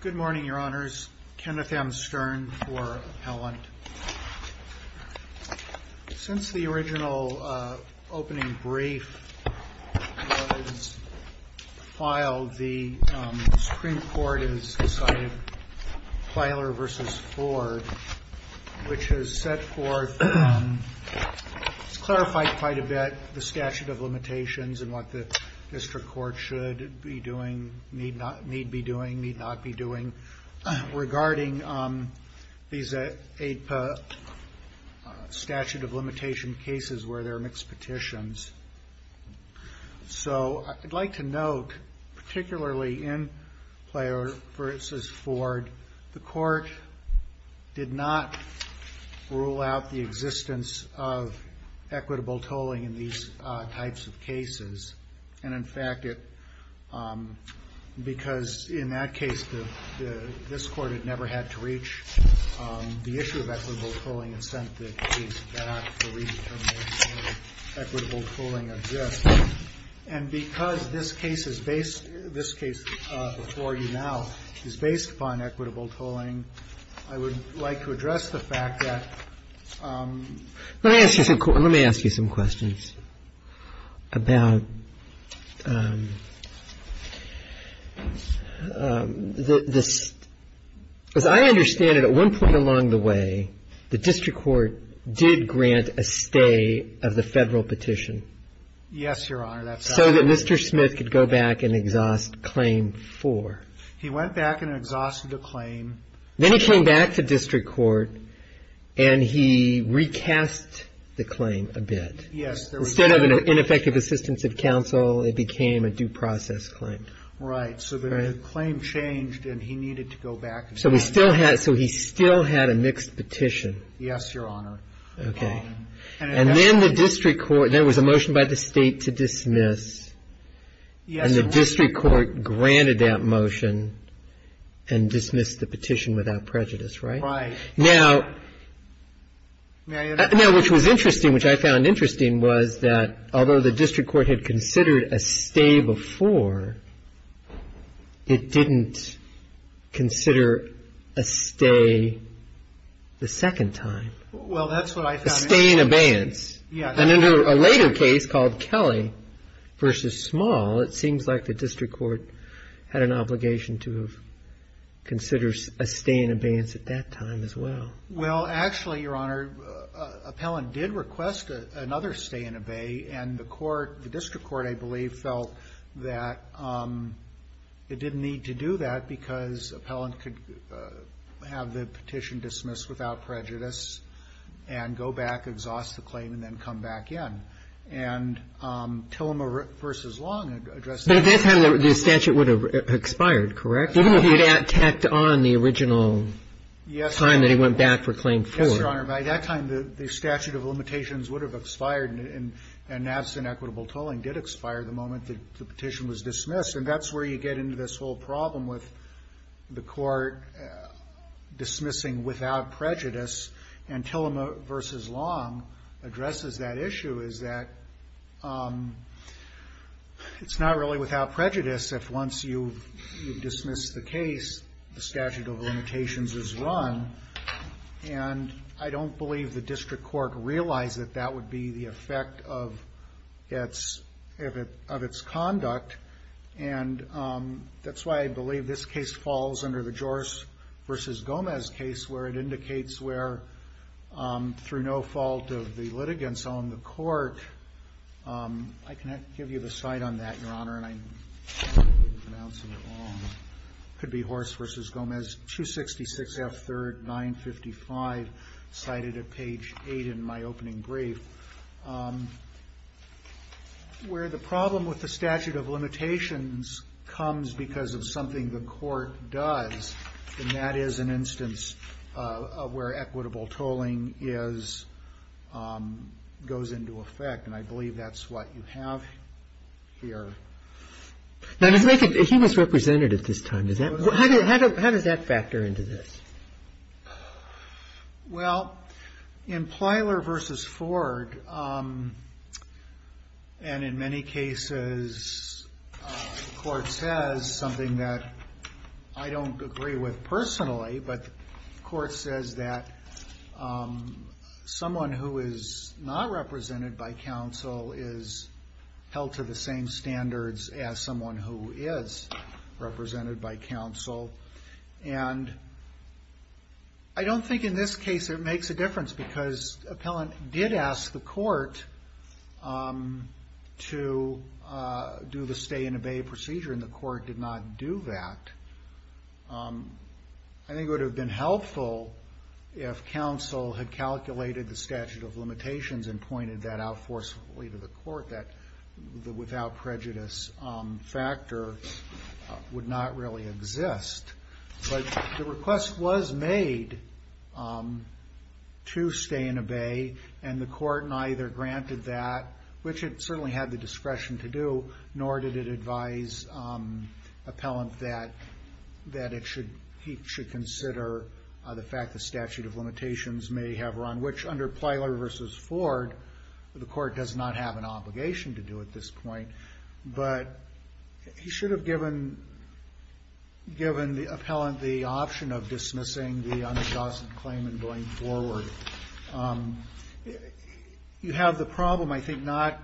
Good morning, your honors. Kenneth M. Stern for appellant. Since the original opening brief was filed, the Supreme Court has decided Plyler v. Ford, which has set forth and has clarified quite a bit the statute of limitations and what the district court should be doing. need be doing, need not be doing, regarding these statute of limitation cases where there are mixed petitions. So I'd like to note, particularly in Plyler v. Ford, the court did not rule out the existence of equitable tolling in these types of cases. And in fact, because in that case, this Court had never had to reach the issue of equitable tolling and sent the case back for redetermination, equitable tolling exists. And because this case before you now is based upon equitable tolling, I would like to address the fact that Let me ask you some questions about this. As I understand it, at one point along the way, the district court did grant a stay of the Federal petition. Yes, your honor. So that Mr. Smith could go back and exhaust Claim 4. He went back and exhausted the claim. Then he came back to district court and he recast the claim a bit. Yes. Instead of an ineffective assistance of counsel, it became a due process claim. Right. So the claim changed and he needed to go back. So he still had a mixed petition. Yes, your honor. Okay. And then the district court, there was a motion by the State to dismiss. Yes, your honor. The district court granted that motion and dismissed the petition without prejudice, right? Right. Now, which was interesting, which I found interesting was that although the district court had considered a stay before, it didn't consider a stay the second time. Well, that's what I found interesting. A stay in abeyance. Yes. And in a later case called Kelly v. Small, it seems like the district court had an obligation to consider a stay in abeyance at that time as well. Well, actually, your honor, Appellant did request another stay in abeyance and the court the district court, I believe, felt that it didn't need to do that because Appellant could have the petition dismissed without prejudice and go back, exhaust the claim and then come back in. And Tillema v. Long addressed that. But at that time, the statute would have expired, correct? Even though he had tacked on the original time that he went back for claim four. Yes, your honor. By that time, the statute of limitations would have expired and absent equitable tolling did expire the moment the petition was dismissed. And that's where you get into this whole problem with the court dismissing without prejudice and Tillema v. Long addresses that issue is that it's not really without prejudice if once you dismiss the case, the statute of limitations is run. And I don't believe the district court realized that that would be the effect of its conduct. And that's why I believe this case falls under the Joris v. Gomez case where it indicates where through no fault of the litigants on the court, I can give you the site on that, your honor, and I could be horse versus Gomez, 266 F 3rd 955 cited at page 8 in my opening brief, where the problem with the statute of limitations comes because of something the court does, and that is an instance of where equitable tolling is, goes into effect. And I believe that's what you have here. He was representative this time. How does that factor into this? Well, in Plyler v. Ford, and in many cases, the court says something that I think I don't agree with personally, but the court says that someone who is not represented by counsel is held to the same standards as someone who is represented by counsel. And I don't think in this case it makes a difference because appellant did ask the court to do the stay and obey procedure, and the court did not do that. I think it would have been helpful if counsel had calculated the statute of limitations and pointed that out forcefully to the court, that the without prejudice factor would not really exist. But the request was made to stay and obey, and the court neither granted that, which it certainly had the discretion to do, nor did it advise appellant that he should consider the fact the statute of limitations may have run, which under Plyler v. Ford, the court does not have an obligation to do at this point. But he should have given the appellant the option of dismissing the unadjusted claim and going forward. You have the problem, I think, not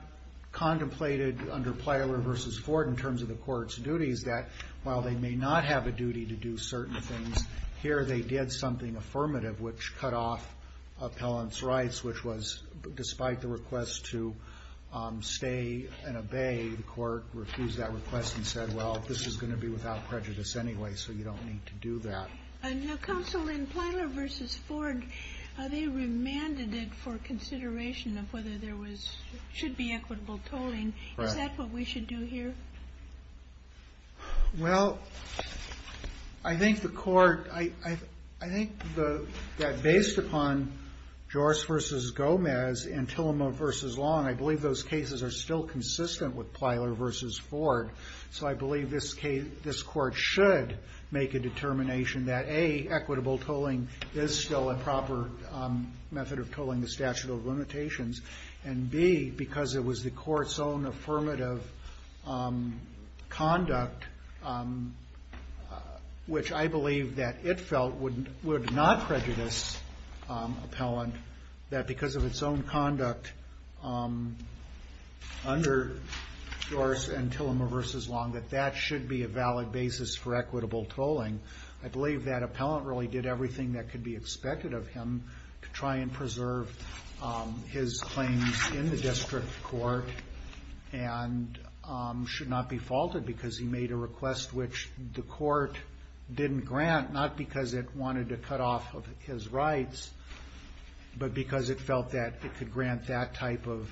contemplated under Plyler v. Ford in terms of the court's duties, that while they may not have a duty to do certain things, here they did something affirmative, which cut off appellant's rights, which was, despite the request to stay and obey, the court refused that request and said, well, this is going to be without prejudice anyway, so you don't need to do that. Now, counsel, in Plyler v. Ford, they remanded it for consideration of whether there was, should be equitable tolling. Is that what we should do here? Well, I think the court, I think that based upon Joris v. Gomez and Tillamow v. Long, I believe those cases are still consistent with Plyler v. Ford. So I believe this court should make a determination that, A, equitable tolling is still a proper method of tolling the statute of limitations, and, B, because it was the court's own affirmative conduct, which I believe that it felt would not prejudice appellant, that because of its own conduct under Joris and Tillamow v. Long, that that should be a valid basis for equitable tolling. I believe that appellant really did everything that could be expected of him to try and preserve his claims in the district court and should not be faulted because he made a request which the court didn't grant, not because it wanted to cut off his rights, but because it felt that it could grant that type of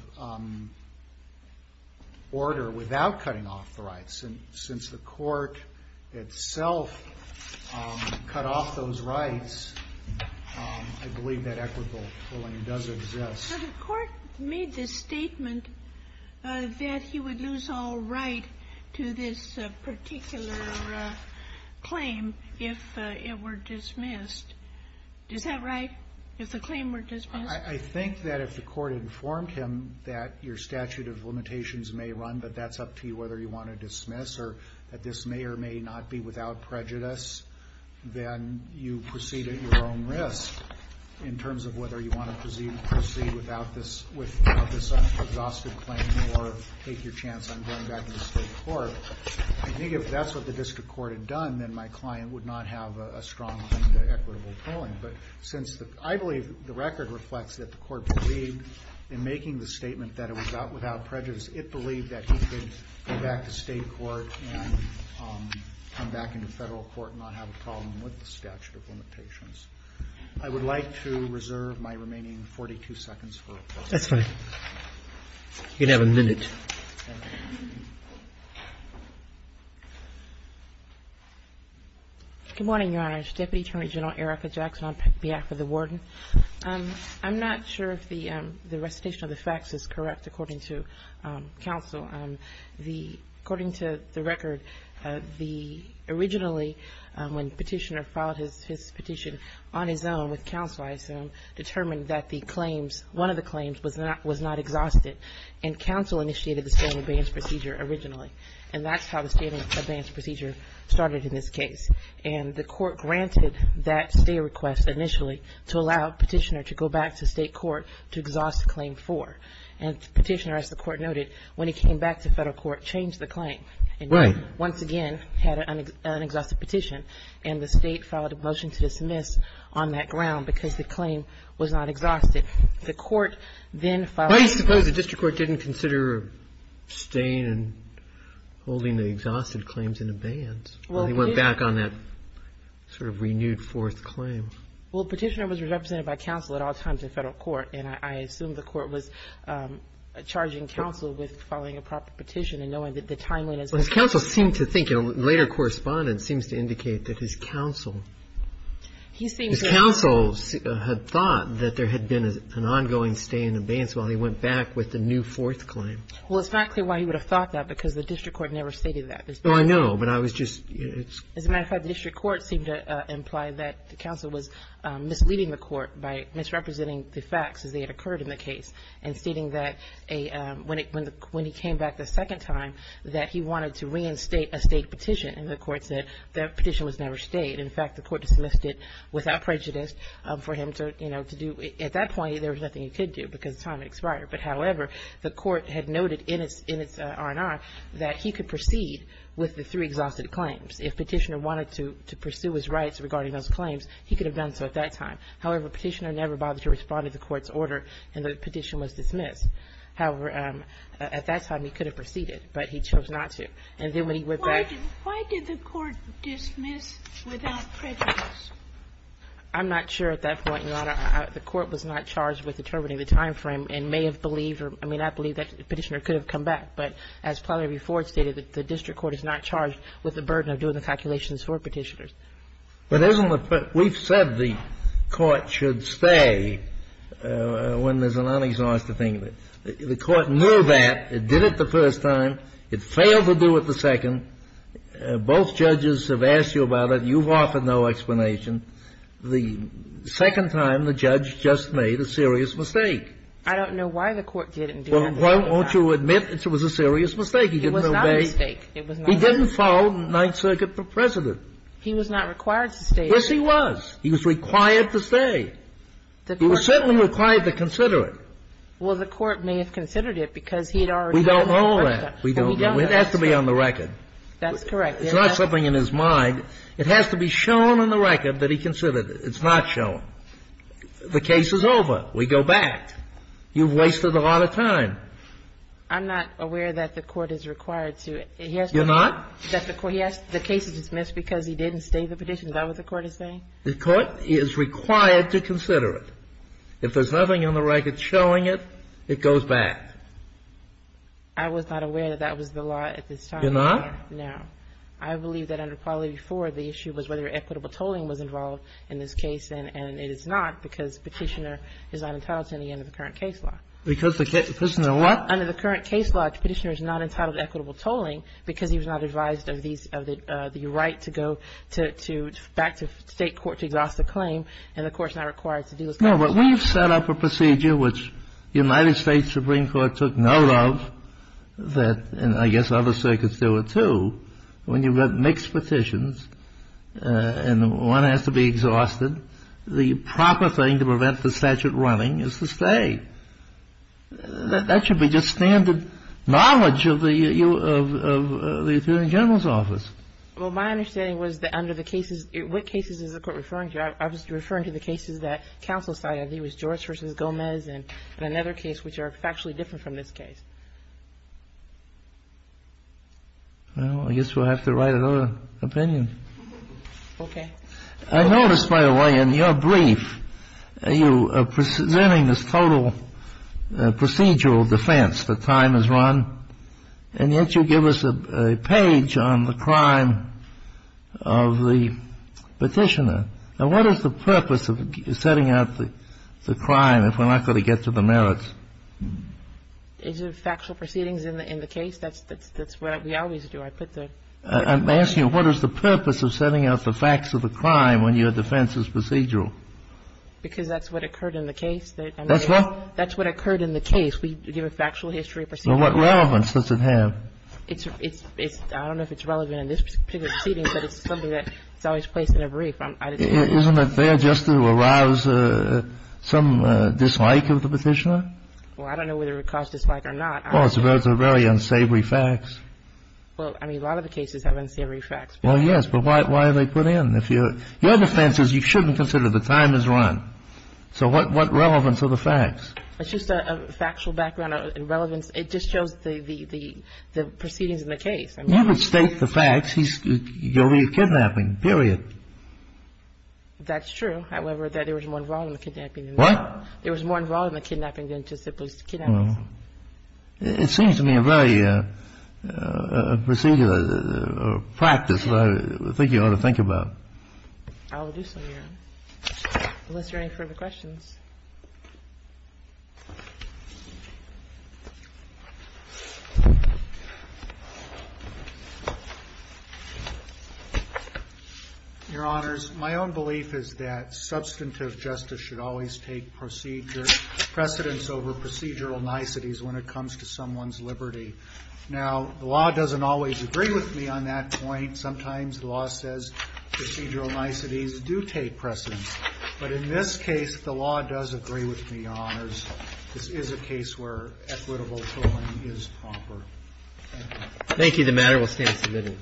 order without cutting off the rights. And since the court itself cut off those rights, I believe that equitable tolling does exist. Kagan. So the court made the statement that he would lose all right to this particular claim if it were dismissed. Is that right, if the claim were dismissed? I think that if the court informed him that your statute of limitations may run, but that's up to you whether you want to dismiss or that this may or may not be without this exhausted claim or take your chance on going back to the state court. I think if that's what the district court had done, then my client would not have a strong claim to equitable tolling. But since I believe the record reflects that the court believed in making the statement that it was without prejudice, it believed that he could go back to state court and come back into federal court and not have a problem with the statute of limitations. I would like to reserve my remaining 42 seconds for questions. That's fine. You can have a minute. Thank you. Good morning, Your Honor. Deputy Attorney General Erica Jackson on behalf of the Warden. I'm not sure if the recitation of the facts is correct, according to counsel. According to the record, the originally, when Petitioner filed his petition, on his own with counsel, I assume, determined that the claims, one of the claims was not exhausted. And counsel initiated the stay and abeyance procedure originally. And that's how the stay and abeyance procedure started in this case. And the court granted that stay request initially to allow Petitioner to go back to state court to exhaust the claim for. And Petitioner, as the court noted, when he came back to federal court, changed the claim. Right. And once again had an unexhausted petition. And the state filed a motion to dismiss on that ground because the claim was not exhausted. The court then filed a motion. I suppose the district court didn't consider staying and holding the exhausted claims in abeyance. Well, it did. Well, he went back on that sort of renewed fourth claim. Well, Petitioner was represented by counsel at all times in federal court. And I assume the court was charging counsel with filing a proper petition and knowing that the timeline has been set. Well, his counsel seemed to think later correspondence seems to indicate that his counsel. His counsel had thought that there had been an ongoing stay and abeyance while he went back with the new fourth claim. Well, it's not clear why he would have thought that because the district court never stated that. Oh, I know. But I was just. As a matter of fact, the district court seemed to imply that the counsel was misleading the court by misrepresenting the facts as they had occurred in the case and stating that when he came back the second time that he wanted to reinstate a state petition. And the court said that petition was never stayed. In fact, the court dismissed it without prejudice for him to, you know, to do. At that point, there was nothing he could do because time expired. But, however, the court had noted in its R&R that he could proceed with the three exhausted claims. If Petitioner wanted to pursue his rights regarding those claims, he could have done so at that time. However, Petitioner never bothered to respond to the court's order, and the petition was dismissed. However, at that time, he could have proceeded. But he chose not to. And then when he went back. Why did the court dismiss without prejudice? I'm not sure at that point, Your Honor. The court was not charged with determining the time frame and may have believed or may not have believed that Petitioner could have come back. But as Plotner v. Ford stated, the district court is not charged with the burden of doing the calculations for Petitioner. But isn't the first. We've said the court should stay when there's an unexhausted thing. The court knew that. It did it the first time. It failed to do it the second. Both judges have asked you about it. You've offered no explanation. The second time, the judge just made a serious mistake. I don't know why the court didn't do it the second time. Well, won't you admit it was a serious mistake? It was not a mistake. It was not a mistake. He didn't follow Ninth Circuit for President. He was not required to stay. Yes, he was. He was required to stay. He was certainly required to consider it. Well, the court may have considered it because he had already done it the first time. We don't know that. We don't know. It has to be on the record. That's correct. It's not something in his mind. It has to be shown on the record that he considered it. It's not shown. The case is over. We go back. You've wasted a lot of time. I'm not aware that the court is required to. You're not? The case is dismissed because he didn't stay the petition. Is that what the court is saying? The court is required to consider it. If there's nothing on the record showing it, it goes back. I was not aware that that was the law at this time. You're not? No. I believe that under Quality IV, the issue was whether equitable tolling was involved in this case, and it is not because Petitioner is not entitled to any under the current case law. Because the case law? Under the current case law, Petitioner is not entitled to equitable tolling because he was not advised of the right to go back to State court to exhaust the claim, and the court is not required to do those kinds of things. No, but we've set up a procedure which the United States Supreme Court took note of that, and I guess other circuits do it, too. When you've got mixed petitions and one has to be exhausted, the proper thing to prevent the statute running is to stay. That should be just standard knowledge of the Attorney General's office. Well, my understanding was that under the cases, what cases is the court referring to? I was referring to the cases that counsel cited. It was George v. Gomez and another case which are factually different from this case. Well, I guess we'll have to write another opinion. Okay. I noticed, by the way, in your brief, you are presenting this total procedural defense that time has run, and yet you give us a page on the crime of the Petitioner. Now, what is the purpose of setting out the crime if we're not going to get to the merits? Is it factual proceedings in the case? That's what we always do. I put the ---- I'm asking you, what is the purpose of setting out the facts of the crime when your defense is procedural? Because that's what occurred in the case. That's what? That's what occurred in the case. We give a factual history procedure. Well, what relevance does it have? It's ---- I don't know if it's relevant in this particular proceeding, but it's something that's always placed in a brief. Isn't it there just to arouse some dislike of the Petitioner? Well, I don't know whether it would cause dislike or not. Well, it's a very unsavory fact. Well, I mean, a lot of the cases have unsavory facts. Well, yes, but why are they put in? Your defense is you shouldn't consider the time has run. So what relevance are the facts? It's just a factual background and relevance. It just shows the proceedings in the case. You could state the facts. You'll be kidnapping, period. That's true. However, there was more involved in the kidnapping than that. What? There was more involved in the kidnapping than just the police kidnapping. It seems to me a very procedural practice that I think you ought to think about. I will do so, Your Honor. Unless there are any further questions. Your Honors, my own belief is that substantive justice should always take precedence over procedural niceties when it comes to someone's liberty. Now, the law doesn't always agree with me on that point. Sometimes the law says procedural niceties do take precedence. The law does agree with me, Your Honors. This is a case where equitable tolling is proper. Thank you. Thank you. The matter will stand submitted.